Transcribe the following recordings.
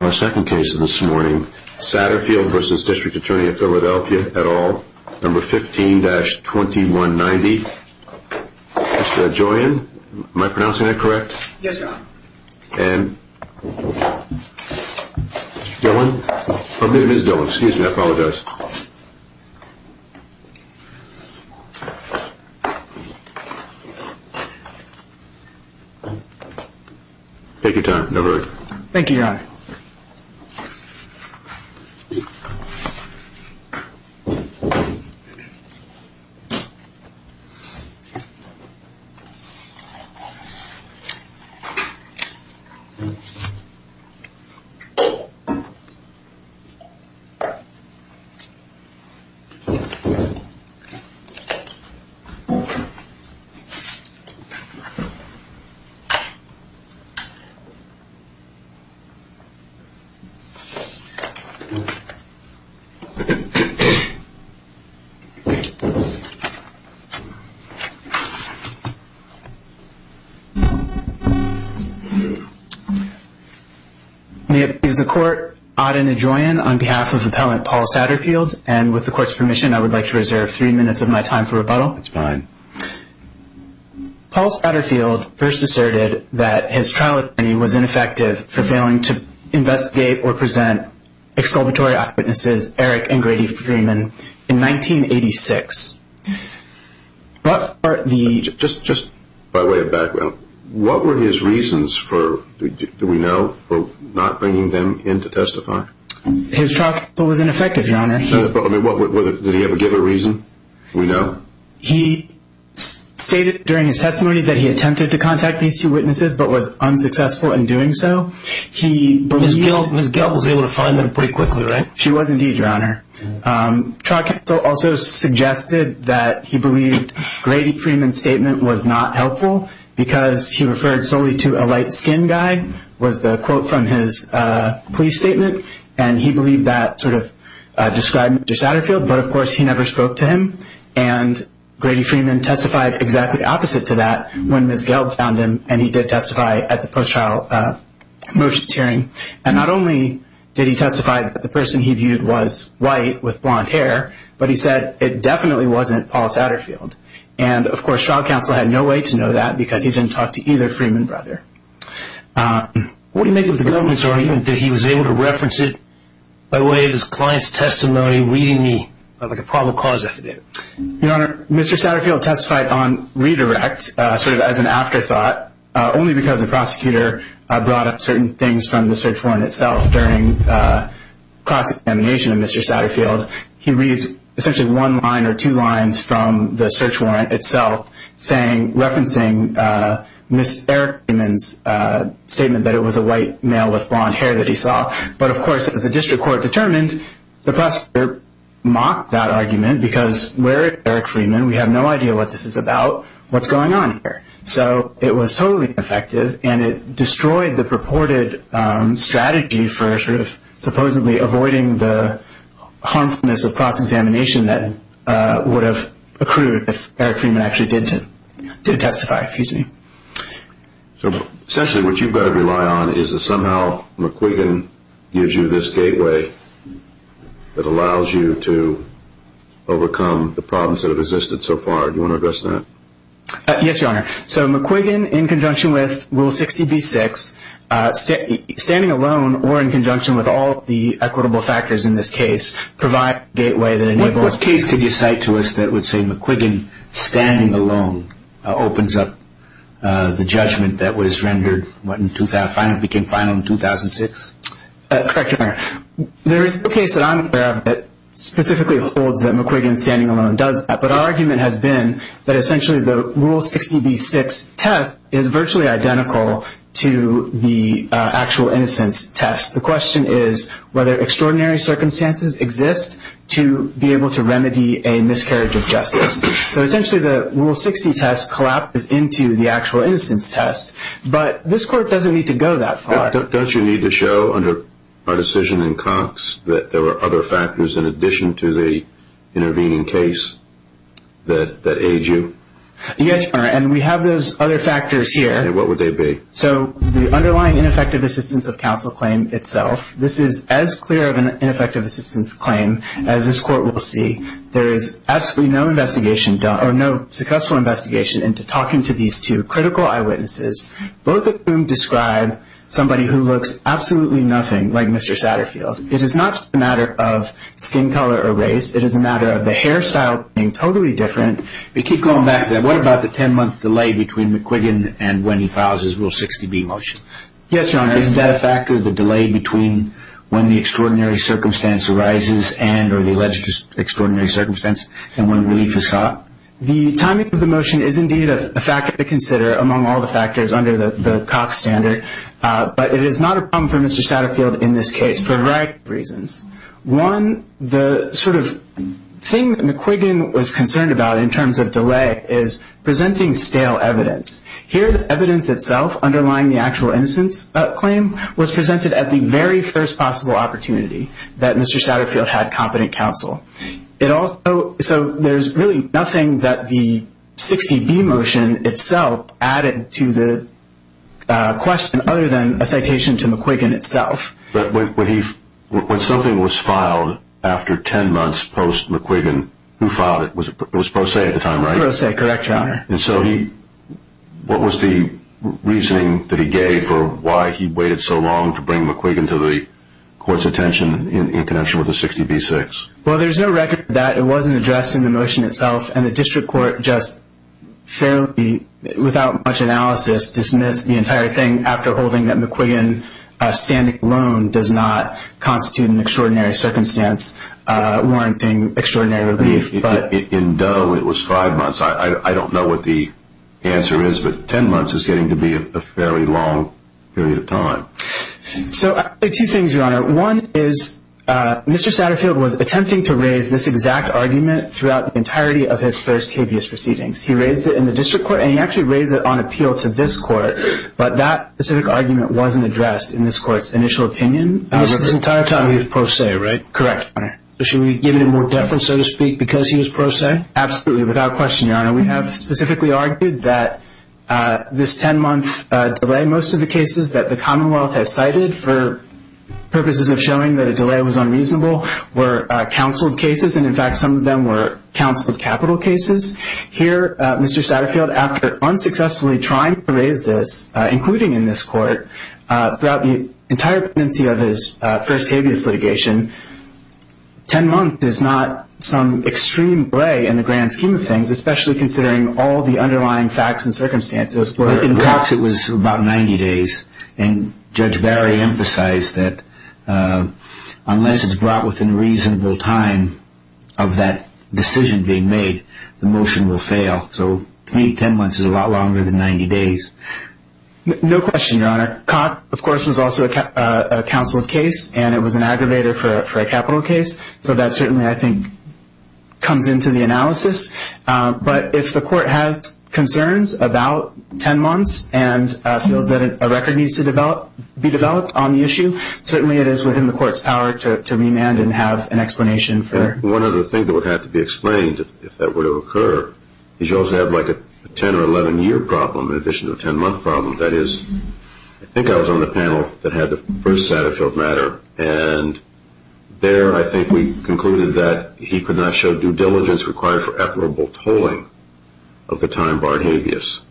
at all. Number 15-2190. Is that Joanne? Am I pronouncing that correct? Yes, Your Honor. And Dylan? I believe it is Dylan. Excuse me. I apologize. Take your time. No hurry. Thank you, Your Honor. Thank you. Is the Court odd and adjoined on behalf of Appellant Paul Satterfield? And with the Court's permission, I would like to reserve three minutes of my time for rebuttal. It's fine. Paul Satterfield first asserted that his trial attorney was ineffective for failing to investigate or present exculpatory eyewitnesses Eric and Grady Freeman in 1986. Just by way of background, what were his reasons for, do we know, for not bringing them in to testify? His trial counsel was ineffective, Your Honor. Did he ever give a reason? Do we know? He stated during his testimony that he attempted to contact these two witnesses but was unsuccessful in doing so. Ms. Gelb was able to find them pretty quickly, right? She was indeed, Your Honor. Trial counsel also suggested that he believed Grady Freeman's statement was not helpful because he referred solely to a light-skinned guy, was the quote from his plea statement. And he believed that sort of described Mr. Satterfield. But, of course, he never spoke to him. And Grady Freeman testified exactly opposite to that when Ms. Gelb found him, and he did testify at the post-trial motions hearing. And not only did he testify that the person he viewed was white with blonde hair, but he said it definitely wasn't Paul Satterfield. And, of course, trial counsel had no way to know that because he didn't talk to either Freeman brother. What do you make of the government's argument that he was able to reference it by way of his client's testimony reading the probable cause affidavit? Your Honor, Mr. Satterfield testified on redirect, sort of as an afterthought, only because the prosecutor brought up certain things from the search warrant itself. During cross-examination of Mr. Satterfield, he reads essentially one line or two lines from the search warrant itself referencing Ms. Eric Freeman's statement that it was a white male with blonde hair that he saw. But, of course, as the district court determined, the prosecutor mocked that argument because where is Eric Freeman? We have no idea what this is about. What's going on here? So it was totally ineffective, and it destroyed the purported strategy for sort of supposedly avoiding the harmfulness of cross-examination that would have accrued if Eric Freeman actually did testify. So essentially what you've got to rely on is that somehow McQuiggan gives you this gateway that allows you to overcome the problems that have existed so far. Do you want to address that? Yes, Your Honor. So McQuiggan, in conjunction with Rule 60B-6, standing alone or in conjunction with all of the equitable factors in this case, provide a gateway that enables… What case could you cite to us that would say McQuiggan standing alone opens up the judgment that was rendered when it became final in 2006? Correct, Your Honor. There is no case that I'm aware of that specifically holds that McQuiggan standing alone does that, but our argument has been that essentially the Rule 60B-6 test is virtually identical to the actual innocence test. The question is whether extraordinary circumstances exist to be able to remedy a miscarriage of justice. So essentially the Rule 60 test collapses into the actual innocence test, but this court doesn't need to go that far. Don't you need to show under our decision in Cox that there were other factors in addition to the intervening case that aid you? Yes, Your Honor, and we have those other factors here. And what would they be? So the underlying ineffective assistance of counsel claim itself, this is as clear of an ineffective assistance claim as this court will see. There is absolutely no investigation done or no successful investigation into talking to these two critical eyewitnesses, both of whom describe somebody who looks absolutely nothing like Mr. Satterfield. It is not a matter of skin color or race. It is a matter of the hairstyle being totally different. But keep going back to that. What about the 10-month delay between McQuiggan and when he files his Rule 60B motion? Yes, Your Honor. Is that a factor, the delay between when the extraordinary circumstance arises and or the alleged extraordinary circumstance and when relief is sought? The timing of the motion is indeed a factor to consider among all the factors under the Cox standard, but it is not a problem for Mr. Satterfield in this case for a variety of reasons. One, the sort of thing that McQuiggan was concerned about in terms of delay is presenting stale evidence. Here, the evidence itself underlying the actual innocence claim was presented at the very first possible opportunity that Mr. Satterfield had competent counsel. So there is really nothing that the 60B motion itself added to the question other than a citation to McQuiggan itself. But when something was filed after 10 months post-McQuiggan, who filed it? It was Prose at the time, right? Prose, correct, Your Honor. And so what was the reasoning that he gave for why he waited so long to bring McQuiggan to the court's attention in connection with the 60B-6? Well, there's no record of that. It wasn't addressed in the motion itself, and the district court just fairly without much analysis dismissed the entire thing after holding that McQuiggan standing alone does not constitute an extraordinary circumstance warranting extraordinary relief. In Doe, it was five months. I don't know what the answer is, but 10 months is getting to be a fairly long period of time. So two things, Your Honor. One is Mr. Satterfield was attempting to raise this exact argument throughout the entirety of his first habeas proceedings. He raised it in the district court, and he actually raised it on appeal to this court, but that specific argument wasn't addressed in this court's initial opinion. And this is the entire time he was Prose, right? Correct, Your Honor. So should we give him more deference, so to speak, because he was Prose? Absolutely, without question, Your Honor. We have specifically argued that this 10-month delay, most of the cases that the Commonwealth has cited for purposes of showing that a delay was unreasonable were counseled cases, and, in fact, some of them were counseled capital cases. Here, Mr. Satterfield, after unsuccessfully trying to raise this, including in this court, throughout the entire pendency of his first habeas litigation, 10 months is not some extreme delay in the grand scheme of things, especially considering all the underlying facts and circumstances. In fact, it was about 90 days, and Judge Barry emphasized that unless it's brought within reasonable time of that decision being made, the motion will fail. So to me, 10 months is a lot longer than 90 days. No question, Your Honor. COT, of course, was also a counseled case, and it was an aggravator for a capital case. So that certainly, I think, comes into the analysis. But if the court has concerns about 10 months and feels that a record needs to be developed on the issue, certainly it is within the court's power to remand and have an explanation for it. One other thing that would have to be explained, if that were to occur, is you also have like a 10- or 11-year problem in addition to a 10-month problem. That is, I think I was on the panel that had the first Satterfield matter, and there I think we concluded that he could not show due diligence required for admirable tolling of the time-barred habeas.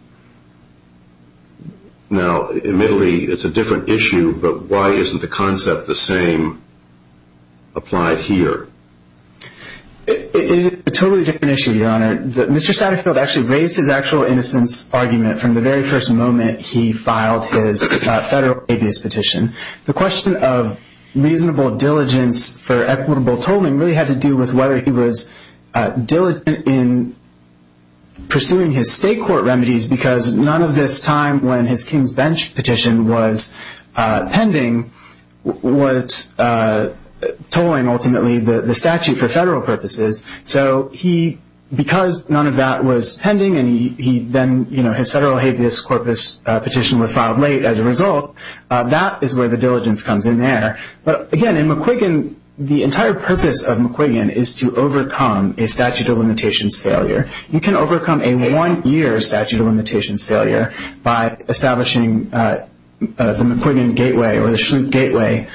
Now, admittedly, it's a different issue, but why isn't the concept the same applied here? It is a totally different issue, Your Honor. Mr. Satterfield actually raised his actual innocence argument from the very first moment he filed his federal habeas petition. The question of reasonable diligence for equitable tolling really had to do with whether he was diligent in pursuing his state court remedies because none of this time when his King's Bench petition was pending was tolling ultimately the statute for federal purposes. So because none of that was pending and then his federal habeas corpus petition was filed late as a result, that is where the diligence comes in there. But again, in McQuiggan, the entire purpose of McQuiggan is to overcome a statute of limitations failure. You can overcome a one-year statute of limitations failure by establishing the McQuiggan gateway or the Schlute gateway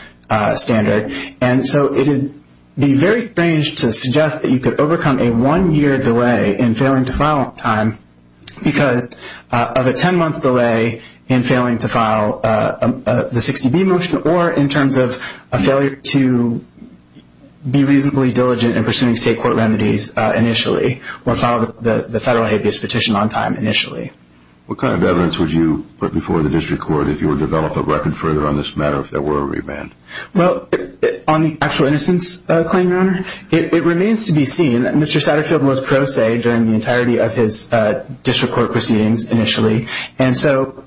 standard. And so it would be very strange to suggest that you could overcome a one-year delay in failing to file on time because of a 10-month delay in failing to file the 60B motion or in terms of a failure to be reasonably diligent in pursuing state court remedies initially or file the federal habeas petition on time initially. What kind of evidence would you put before the district court if you were to develop a record further on this matter, if there were a remand? Well, on the actual innocence claim, Your Honor, it remains to be seen. Mr. Satterfield was pro se during the entirety of his district court proceedings initially. And so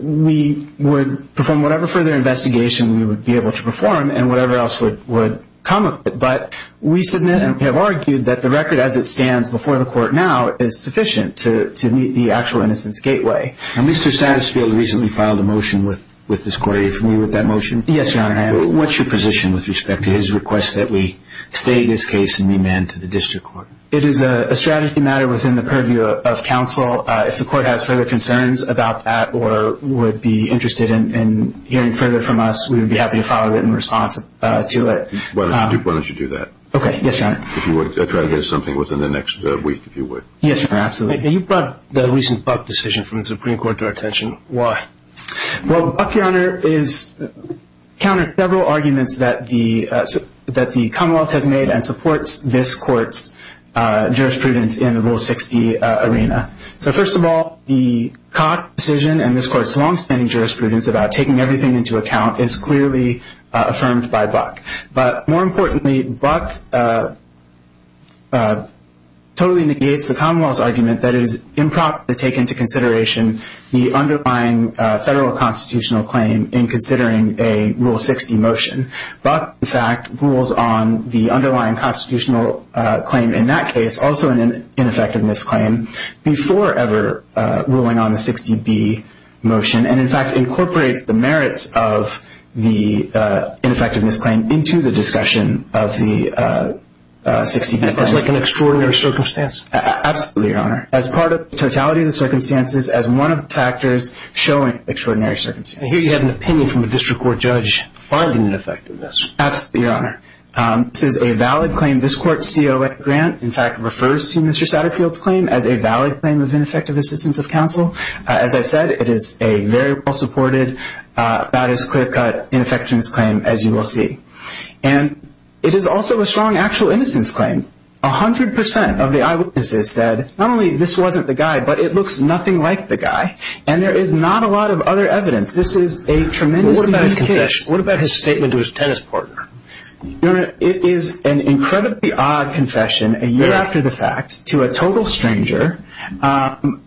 we would perform whatever further investigation we would be able to perform and whatever else would come of it. But we submit and have argued that the record as it stands before the court now is sufficient to meet the actual innocence gateway. Now, Mr. Satterfield recently filed a motion with this court. Are you familiar with that motion? Yes, Your Honor, I am. What's your position with respect to his request that we stay in this case and remand to the district court? It is a strategy matter within the purview of counsel. If the court has further concerns about that or would be interested in hearing further from us, we would be happy to follow it in response to it. Why don't you do that? Okay, yes, Your Honor. If you would, try to get us something within the next week, if you would. Yes, Your Honor, absolutely. You brought the recent Buck decision from the Supreme Court to our attention. Why? Well, Buck, Your Honor, has countered several arguments that the Commonwealth has made and supports this court's jurisprudence in the Rule 60 arena. So first of all, the Cock decision and this court's longstanding jurisprudence about taking everything into account is clearly affirmed by Buck. But more importantly, Buck totally negates the Commonwealth's argument that it is improper to take into consideration the underlying federal constitutional claim in considering a Rule 60 motion. Buck, in fact, rules on the underlying constitutional claim in that case, also an ineffectiveness claim, before ever ruling on the 60B motion and, in fact, incorporates the merits of the ineffectiveness claim into the discussion of the 60B motion. That's like an extraordinary circumstance. Absolutely, Your Honor. As part of the totality of the circumstances, as one of the factors showing extraordinary circumstances. I hear you have an opinion from a district court judge finding ineffectiveness. Absolutely, Your Honor. This is a valid claim. This court's COA grant, in fact, refers to Mr. Satterfield's claim as a valid claim of ineffective assistance of counsel. As I've said, it is a very well-supported, about-as-clear-cut ineffectiveness claim, as you will see. And it is also a strong actual innocence claim. A hundred percent of the eyewitnesses said, not only this wasn't the guy, but it looks nothing like the guy. And there is not a lot of other evidence. This is a tremendously weak case. What about his statement to his tennis partner? Your Honor, it is an incredibly odd confession, a year after the fact, to a total stranger.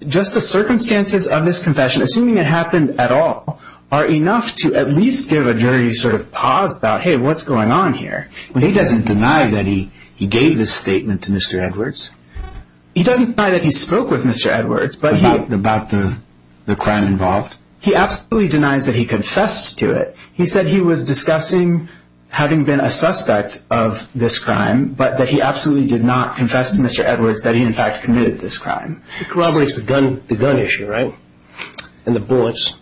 Just the circumstances of this confession, assuming it happened at all, are enough to at least give a jury sort of pause about, hey, what's going on here? He doesn't deny that he gave this statement to Mr. Edwards. He doesn't deny that he spoke with Mr. Edwards. About the crime involved? He absolutely denies that he confessed to it. He said he was discussing having been a suspect of this crime, but that he absolutely did not confess to Mr. Edwards, that he, in fact, committed this crime. It corroborates the gun issue, right, and the bullets?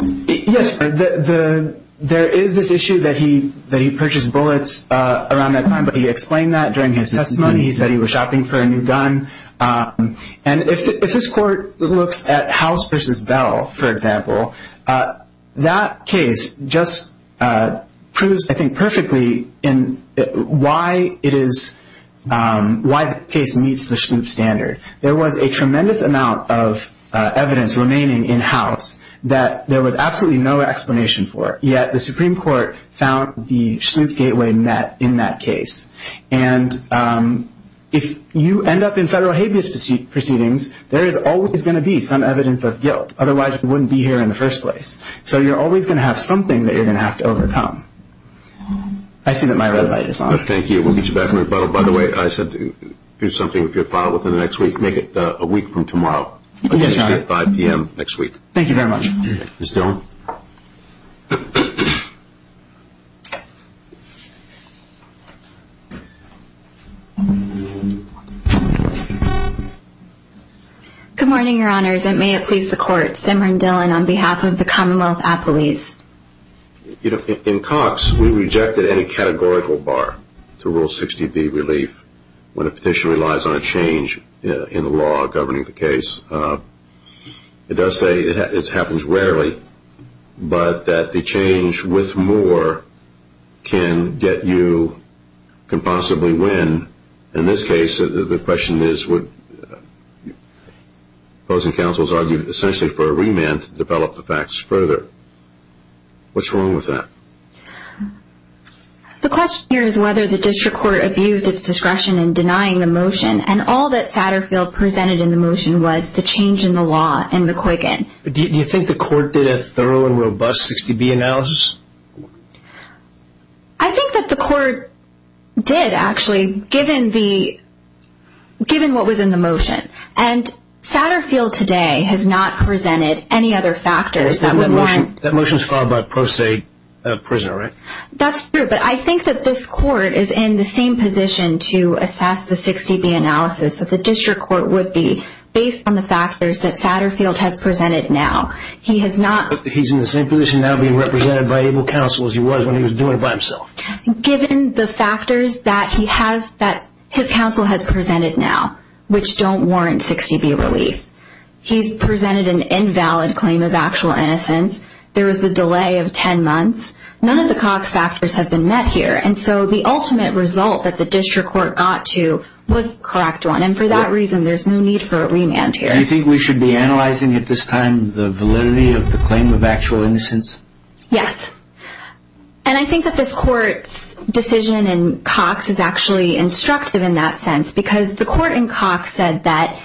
Yes, Your Honor. There is this issue that he purchased bullets around that time, but he explained that during his testimony. He said he was shopping for a new gun. And if this court looks at House v. Bell, for example, that case just proves, I think, perfectly in why it is, why the case meets the Shloop standard. There was a tremendous amount of evidence remaining in House that there was absolutely no explanation for, yet the Supreme Court found the Shloop gateway net in that case. And if you end up in federal habeas proceedings, there is always going to be some evidence of guilt. Otherwise, you wouldn't be here in the first place. So you're always going to have something that you're going to have to overcome. I see that my red light is on. Thank you. We'll meet you back in the rebuttal. By the way, I said to do something, if you're filed within the next week, make it a week from tomorrow. Yes, Your Honor. 5 p.m. next week. Thank you very much. Ms. Dillon? Good morning, Your Honors. And may it please the Court, Simran Dillon on behalf of the Commonwealth Appellees. You know, in Cox, we rejected any categorical bar to Rule 60b, Relief, when a petition relies on a change in the law governing the case. It does say it happens rarely, but that the change with more can get you, can possibly win. In this case, the question is what opposing counsels argued, essentially for a remand to develop the facts further. What's wrong with that? The question here is whether the district court abused its discretion in denying the motion. And all that Satterfield presented in the motion was the change in the law and the quicken. Do you think the court did a thorough and robust 60b analysis? I think that the court did, actually, given what was in the motion. And Satterfield today has not presented any other factors. That motion is filed by a pro se prisoner, right? That's true. But I think that this court is in the same position to assess the 60b analysis that the district court would be based on the factors that Satterfield has presented now. He has not. He's in the same position now being represented by able counsel as he was when he was doing it by himself. Given the factors that he has, that his counsel has presented now, which don't warrant 60b relief. He's presented an invalid claim of actual innocence. There is a delay of 10 months. None of the Cox factors have been met here. And so the ultimate result that the district court got to was the correct one. And for that reason, there's no need for a remand here. Do you think we should be analyzing at this time the validity of the claim of actual innocence? Yes. And I think that this court's decision in Cox is actually instructive in that sense because the court in Cox said that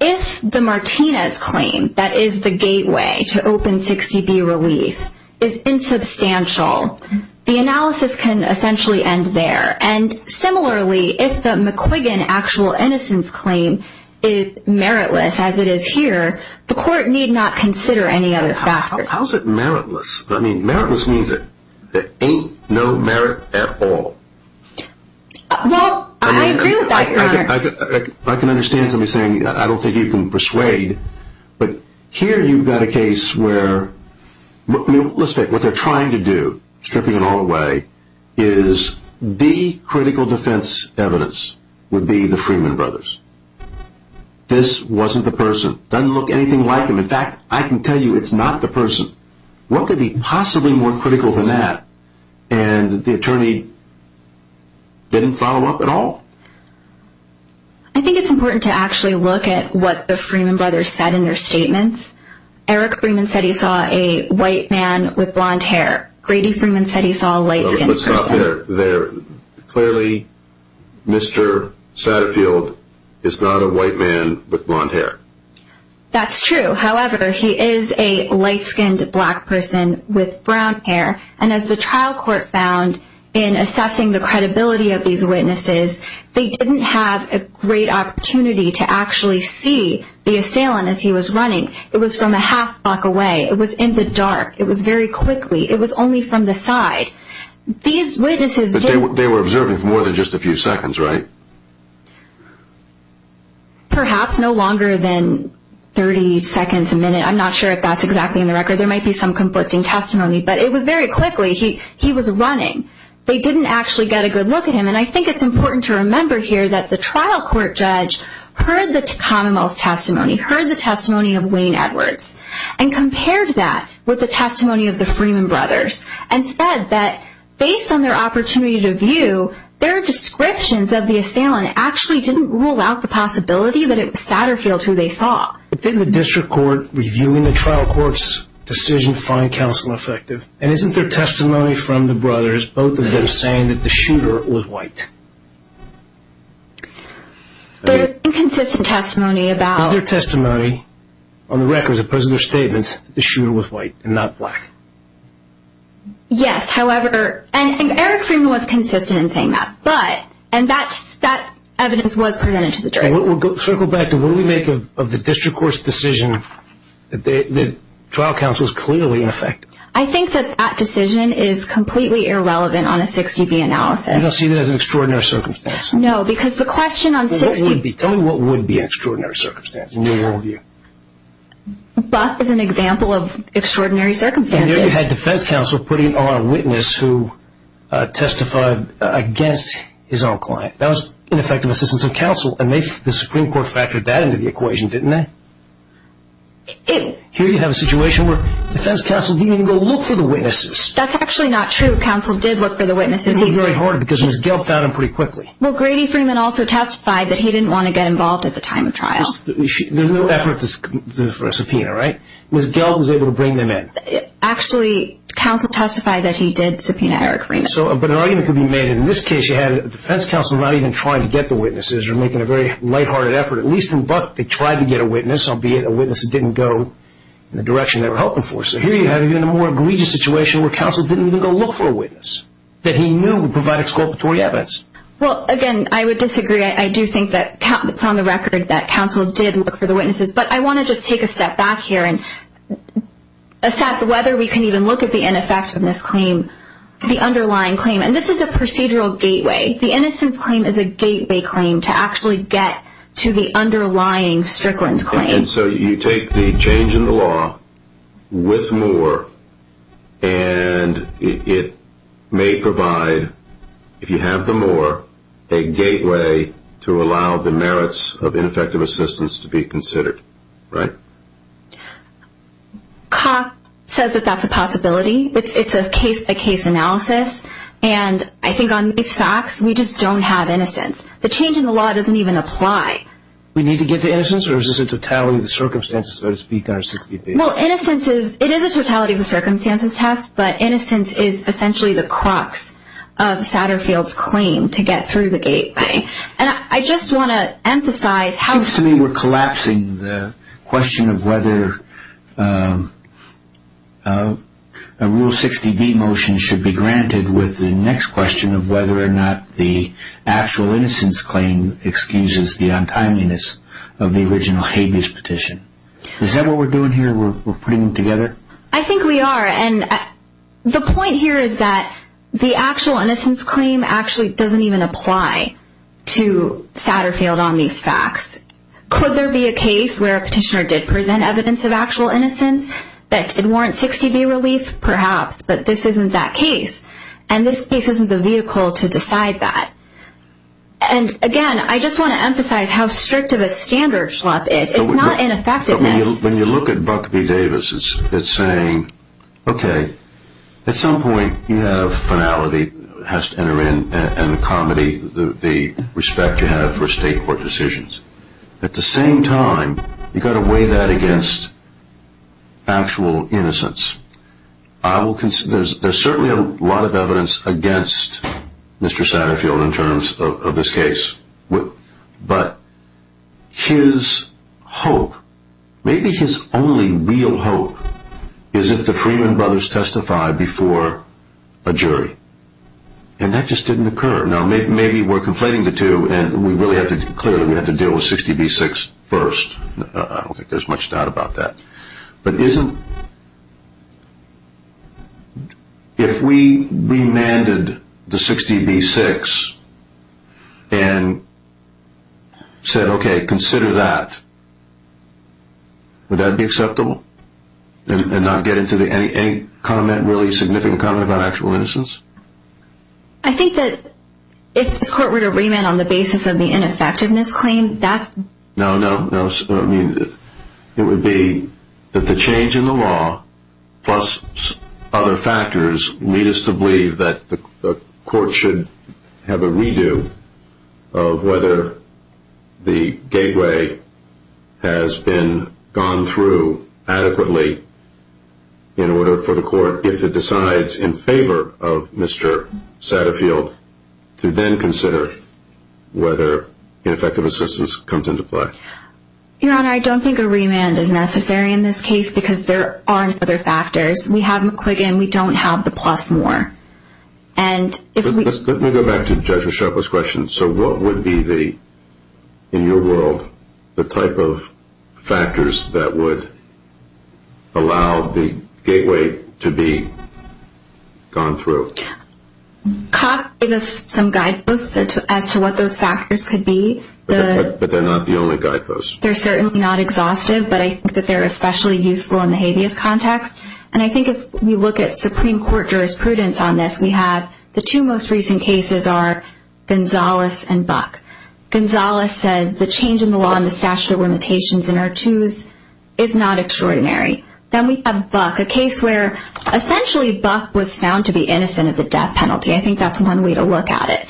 if the Martinez claim that is the gateway to open 60b relief is insubstantial, the analysis can essentially end there. And similarly, if the McQuiggan actual innocence claim is meritless, as it is here, the court need not consider any other factors. How is it meritless? I mean, meritless means that there ain't no merit at all. Well, I agree with that, Your Honor. I can understand somebody saying I don't think you can persuade. But here you've got a case where what they're trying to do, stripping it all away, is the critical defense evidence would be the Freeman brothers. This wasn't the person. Doesn't look anything like him. In fact, I can tell you it's not the person. What could be possibly more critical than that? And the attorney didn't follow up at all? I think it's important to actually look at what the Freeman brothers said in their statements. Eric Freeman said he saw a white man with blonde hair. Grady Freeman said he saw a light-skinned person. Let's stop there. Clearly, Mr. Satterfield is not a white man with blonde hair. That's true. However, he is a light-skinned black person with brown hair. And as the trial court found in assessing the credibility of these witnesses, they didn't have a great opportunity to actually see the assailant as he was running. It was from a half block away. It was in the dark. It was very quickly. It was only from the side. These witnesses didn't. But they were observing for more than just a few seconds, right? Perhaps no longer than 30 seconds, a minute. I'm not sure if that's exactly in the record. There might be some conflicting testimony. But it was very quickly. He was running. They didn't actually get a good look at him. And I think it's important to remember here that the trial court judge heard the commonwealth's testimony, heard the testimony of Wayne Edwards, and compared that with the testimony of the Freeman brothers and said that based on their opportunity to view, their descriptions of the assailant actually didn't rule out the possibility that it was Satterfield who they saw. But didn't the district court, reviewing the trial court's decision, find counsel effective? And isn't there testimony from the brothers, both of them saying that the shooter was white? There's inconsistent testimony about... Isn't there testimony on the record, as opposed to their statements, that the shooter was white and not black? Yes, however, and I think Eric Freeman was consistent in saying that. But, and that evidence was presented to the jury. Okay, circle back to what do we make of the district court's decision that trial counsel is clearly ineffective? I think that that decision is completely irrelevant on a 60B analysis. You don't see that as an extraordinary circumstance? No, because the question on 60B... Tell me what would be an extraordinary circumstance in your world view? Buck is an example of extraordinary circumstances. You had defense counsel putting on a witness who testified against his own client. That was ineffective assistance of counsel, and the Supreme Court factored that into the equation, didn't it? Here you have a situation where defense counsel didn't even go look for the witnesses. That's actually not true. Counsel did look for the witnesses. It was very hard, because Ms. Gelb found them pretty quickly. Well, Grady Freeman also testified that he didn't want to get involved at the time of trial. There's no effort for a subpoena, right? Ms. Gelb was able to bring them in. Actually, counsel testified that he did subpoena Eric Freeman. But an argument could be made that in this case you had a defense counsel not even trying to get the witnesses, or making a very lighthearted effort. At least in Buck, they tried to get a witness, albeit a witness that didn't go in the direction they were hoping for. So here you have even a more egregious situation where counsel didn't even go look for a witness that he knew would provide exculpatory evidence. Well, again, I would disagree. I do think that, from the record, that counsel did look for the witnesses. But I want to just take a step back here and assess whether we can even look at the ineffectiveness claim. The underlying claim, and this is a procedural gateway. The innocence claim is a gateway claim to actually get to the underlying Strickland claim. And so you take the change in the law with Moore, and it may provide, if you have the Moore, a gateway to allow the merits of ineffective assistance to be considered, right? Cox says that that's a possibility. It's a case-by-case analysis. And I think on these facts, we just don't have innocence. The change in the law doesn't even apply. We need to get to innocence, or is this a totality of the circumstances, so to speak, on our 60th day? Well, innocence is – it is a totality of the circumstances test, but innocence is essentially the crux of Satterfield's claim to get through the gateway. And I just want to emphasize how – it seems to me we're collapsing the question of whether a Rule 60B motion should be granted with the next question of whether or not the actual innocence claim excuses the untimeliness of the original habeas petition. Is that what we're doing here? We're putting them together? I think we are. The point here is that the actual innocence claim actually doesn't even apply to Satterfield on these facts. Could there be a case where a petitioner did present evidence of actual innocence that did warrant 60B relief? Perhaps. But this isn't that case. And this case isn't the vehicle to decide that. And again, I just want to emphasize how strict of a standard it is. It's not ineffectiveness. When you look at Buck v. Davis, it's saying, okay, at some point you have finality has to enter in and accommodate the respect you have for state court decisions. At the same time, you've got to weigh that against actual innocence. There's certainly a lot of evidence against Mr. Satterfield in terms of this case. But his hope, maybe his only real hope, is if the Freeman brothers testify before a jury. And that just didn't occur. Now, maybe we're conflating the two, and clearly we have to deal with 60B-6 first. I don't think there's much doubt about that. But isn't, if we remanded the 60B-6 and said, okay, consider that, would that be acceptable? And not get into any comment, really significant comment about actual innocence? I think that if this court were to remand on the basis of the ineffectiveness claim, that's... that the change in the law plus other factors lead us to believe that the court should have a redo of whether the gateway has been gone through adequately in order for the court, if it decides in favor of Mr. Satterfield, to then consider whether ineffective assistance comes into play. Your Honor, I don't think a remand is necessary in this case because there aren't other factors. We have McQuiggan. We don't have the plus more. And if we... Let me go back to Judge Mischopo's question. So what would be the, in your world, the type of factors that would allow the gateway to be gone through? Cox gave us some guideposts as to what those factors could be. But they're not the only guideposts. They're certainly not exhaustive, but I think that they're especially useful in the habeas context. And I think if we look at Supreme Court jurisprudence on this, we have the two most recent cases are Gonzales and Buck. Gonzales says the change in the law and the statute of limitations in our twos is not extraordinary. Then we have Buck, a case where essentially Buck was found to be innocent of the death penalty. I think that's one way to look at it.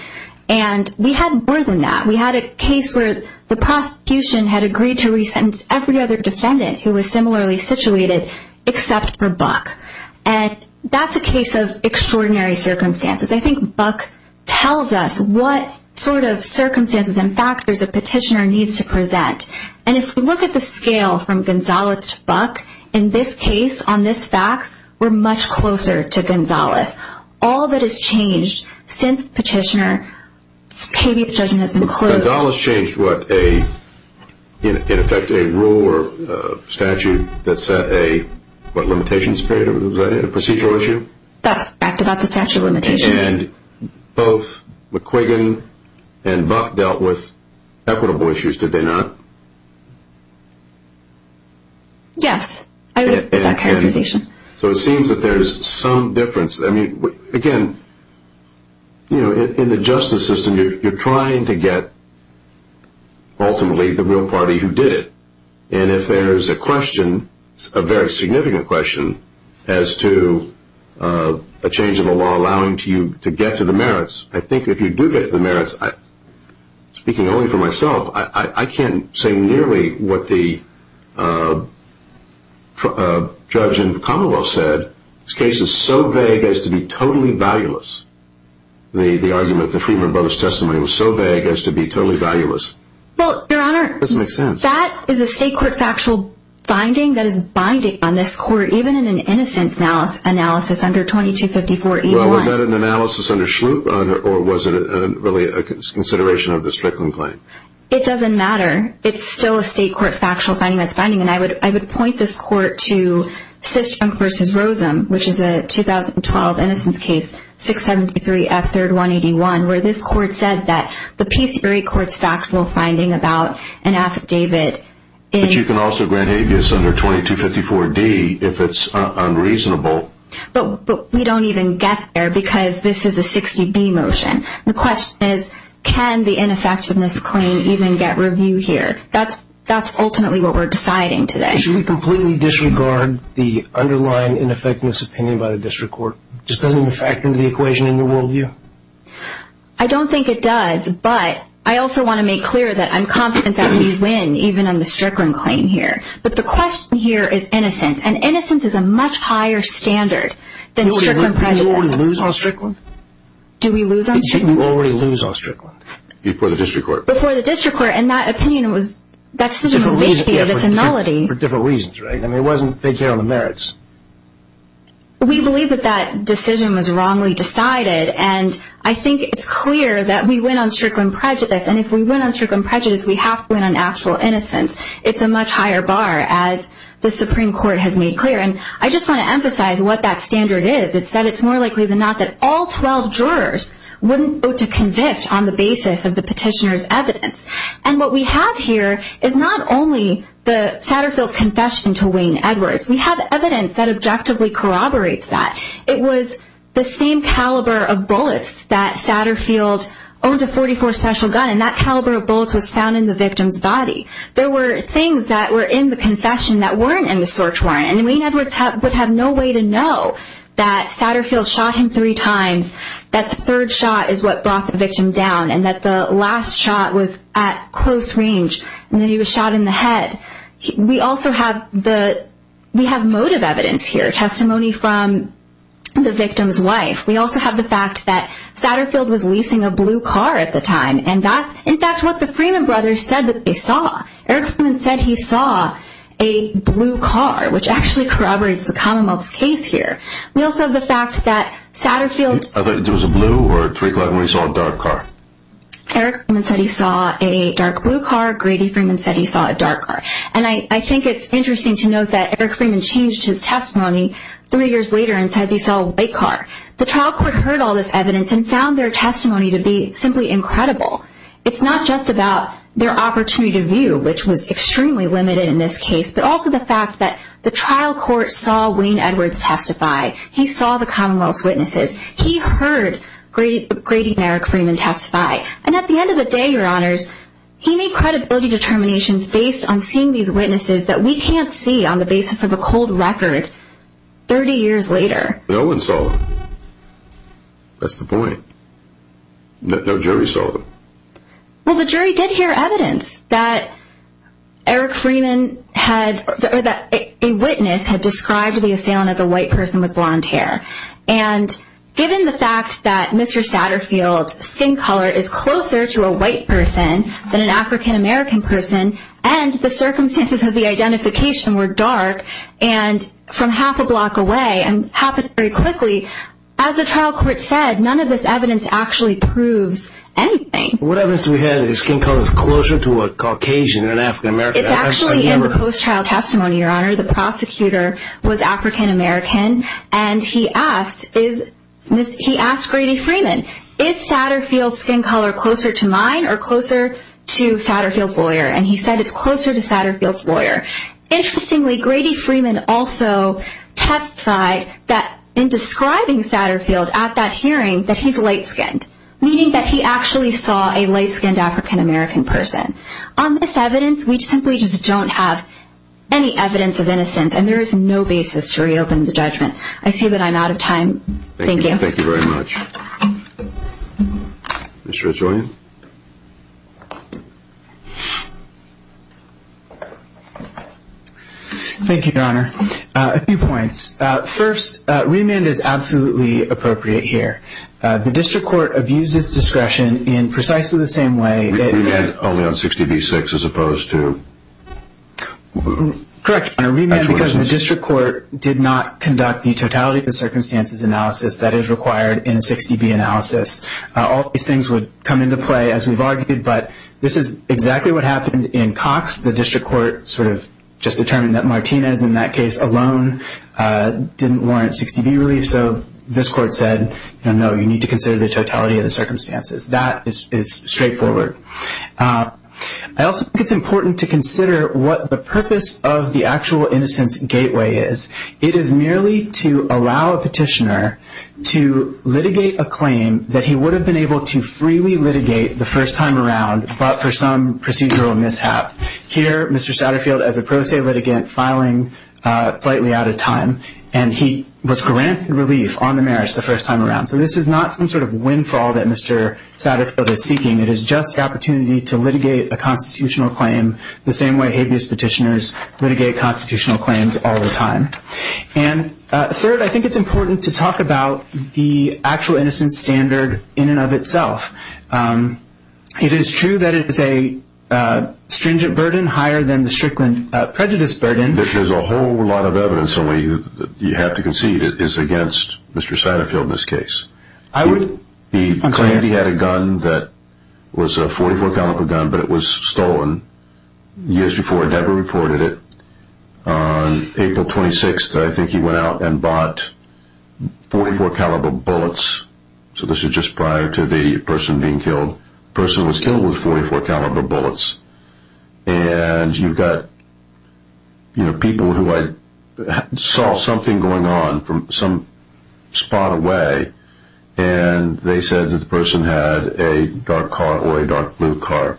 And we had more than that. We had a case where the prosecution had agreed to resentence every other defendant who was similarly situated except for Buck. And that's a case of extraordinary circumstances. I think Buck tells us what sort of circumstances and factors a petitioner needs to present. And if we look at the scale from Gonzales to Buck, in this case, on this fax, we're much closer to Gonzales. All that has changed since the petitioner's habeas judgment has been closed. Gonzales changed what, in effect, a rule or statute that set a, what, limitations period? Was that a procedural issue? That's about the statute of limitations. And both McQuiggan and Buck dealt with equitable issues, did they not? Yes, I would put that characterization. So it seems that there's some difference. I mean, again, you know, in the justice system, you're trying to get ultimately the real party who did it. And if there's a question, a very significant question, as to a change in the law allowing you to get to the merits, I think if you do get to the merits, speaking only for myself, I can't say nearly what the judge in Commonwealth said. This case is so vague as to be totally valueless. The argument, the Friedman Brothers testimony was so vague as to be totally valueless. Well, Your Honor, that is a state court factual finding that is binding on this court, even in an innocence analysis under 2254-81. Well, was that an analysis under Schlup? Or was it really a consideration of the Strickland claim? It doesn't matter. It's still a state court factual finding that's binding. And I would point this court to Systrom v. Rosen, which is a 2012 innocence case, 673-F3181, where this court said that the Peacebury court's factual finding about an affidavit in – But you can also grant habeas under 2254-D if it's unreasonable. But we don't even get there because this is a 60-B motion. The question is, can the ineffectiveness claim even get review here? That's ultimately what we're deciding today. Should we completely disregard the underlying ineffectiveness opinion by the district court? It just doesn't even factor into the equation in your worldview. I don't think it does, but I also want to make clear that I'm confident that we win, even on the Strickland claim here. But the question here is innocence. And innocence is a much higher standard than Strickland prejudice. Did you already lose on Strickland? Do we lose on Strickland? Did you already lose on Strickland? Before the district court. Before the district court. And that opinion was – that decision was initiated as a nullity. For different reasons, right? I mean, it wasn't – they care on the merits. We believe that that decision was wrongly decided. And I think it's clear that we win on Strickland prejudice. And if we win on Strickland prejudice, we have to win on actual innocence. It's a much higher bar, as the Supreme Court has made clear. And I just want to emphasize what that standard is. It's that it's more likely than not that all 12 jurors wouldn't vote to convict on the basis of the petitioner's evidence. And what we have here is not only the Satterfield confession to Wayne Edwards. We have evidence that objectively corroborates that. It was the same caliber of bullets that Satterfield owned a .44 special gun. And that caliber of bullets was found in the victim's body. There were things that were in the confession that weren't in the search warrant. And Wayne Edwards would have no way to know that Satterfield shot him three times, that the third shot is what brought the victim down, and that the last shot was at close range. And then he was shot in the head. We also have the – we have motive evidence here, testimony from the victim's wife. We also have the fact that Satterfield was leasing a blue car at the time. And that's, in fact, what the Freeman brothers said that they saw. Eric Freeman said he saw a blue car, which actually corroborates the Commonwealth's case here. We also have the fact that Satterfield's – I thought it was a blue or a twig like when he saw a dark car. Eric Freeman said he saw a dark blue car. Grady Freeman said he saw a dark car. And I think it's interesting to note that Eric Freeman changed his testimony three years later and said he saw a white car. The trial court heard all this evidence and found their testimony to be simply incredible. It's not just about their opportunity to view, which was extremely limited in this case, but also the fact that the trial court saw Wayne Edwards testify. He saw the Commonwealth's witnesses. He heard Grady and Eric Freeman testify. And at the end of the day, Your Honors, he made credibility determinations based on seeing these witnesses that we can't see on the basis of a cold record 30 years later. No one saw them. That's the point. No jury saw them. Well, the jury did hear evidence that Eric Freeman had – or that a witness had described the assailant as a white person with blonde hair. And given the fact that Mr. Satterfield's skin color is closer to a white person than an African-American person and the circumstances of the identification were dark, and from half a block away, and happened very quickly, as the trial court said, none of this evidence actually proves anything. What evidence do we have that his skin color is closer to a Caucasian than an African-American? It's actually in the post-trial testimony, Your Honor. The prosecutor was African-American, and he asked Grady Freeman, is Satterfield's skin color closer to mine or closer to Satterfield's lawyer? And he said it's closer to Satterfield's lawyer. Interestingly, Grady Freeman also testified that in describing Satterfield at that hearing, that he's light-skinned, meaning that he actually saw a light-skinned African-American person. On this evidence, we simply just don't have any evidence of innocence, and there is no basis to reopen the judgment. I say that I'm out of time. Thank you. Thank you very much. Mr. Regillian? Thank you, Your Honor. A few points. First, remand is absolutely appropriate here. The district court abused its discretion in precisely the same way that— Remand only on 60 v. 6 as opposed to— Correct, Your Honor. Remand because the district court did not conduct the totality of the circumstances analysis that is required in a 60 v. analysis. All these things would come into play as we've argued, but this is exactly what happened in Cox. The district court sort of just determined that Martinez in that case alone didn't warrant 60 v. relief, so this court said, you know, no, you need to consider the totality of the circumstances. That is straightforward. I also think it's important to consider what the purpose of the actual innocence gateway is. It is merely to allow a petitioner to litigate a claim that he would have been able to freely litigate the first time around but for some procedural mishap. Here, Mr. Satterfield, as a pro se litigant, filing slightly out of time, and he was granted relief on the merits the first time around. So this is not some sort of windfall that Mr. Satterfield is seeking. It is just the opportunity to litigate a constitutional claim the same way habeas petitioners litigate constitutional claims all the time. And third, I think it's important to talk about the actual innocence standard in and of itself. It is true that it is a stringent burden higher than the strickland prejudice burden. There's a whole lot of evidence that you have to concede is against Mr. Satterfield in this case. He claimed he had a gun that was a .44 caliber gun but it was stolen years before he ever reported it. On April 26th, I think he went out and bought .44 caliber bullets. So this is just prior to the person being killed. The person was killed with .44 caliber bullets. And you've got people who saw something going on from some spot away and they said that the person had a dark car or a dark blue car.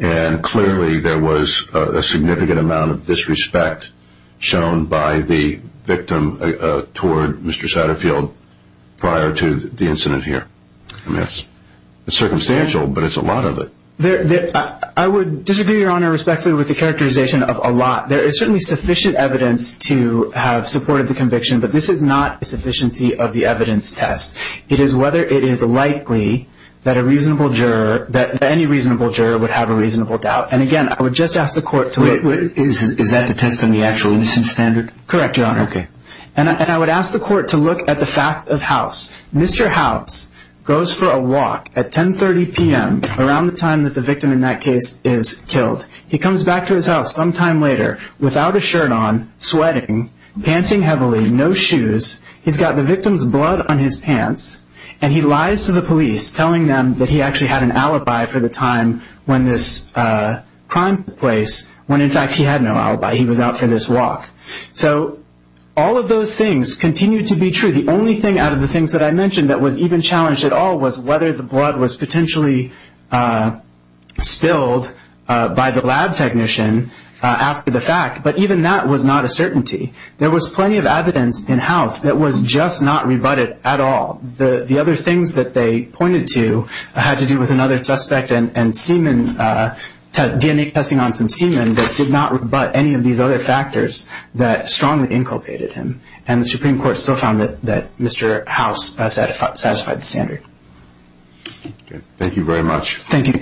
And clearly there was a significant amount of disrespect shown by the victim toward Mr. Satterfield prior to the incident here. I mean, it's circumstantial but it's a lot of it. I would disagree, Your Honor, respectfully with the characterization of a lot. There is certainly sufficient evidence to have supported the conviction but this is not a sufficiency of the evidence test. It is whether it is likely that a reasonable juror, that any reasonable juror would have a reasonable doubt. And again, I would just ask the court to look. Is that the test on the actual innocence standard? Correct, Your Honor. And I would ask the court to look at the fact of House. Mr. House goes for a walk at 10.30 p.m. around the time that the victim in that case is killed. He comes back to his house sometime later without a shirt on, sweating, panting heavily, no shoes. He's got the victim's blood on his pants and he lies to the police telling them that he actually had an alibi for the time when this crime took place when in fact he had no alibi. He was out for this walk. So all of those things continue to be true. The only thing out of the things that I mentioned that was even challenged at all was whether the blood was potentially spilled by the lab technician after the fact. But even that was not a certainty. There was plenty of evidence in House that was just not rebutted at all. The other things that they pointed to had to do with another suspect and semen, DNA testing on some semen that did not rebut any of these other factors that strongly inculpated him. And the Supreme Court still found that Mr. House satisfied the standard. Thank you very much. Thank you.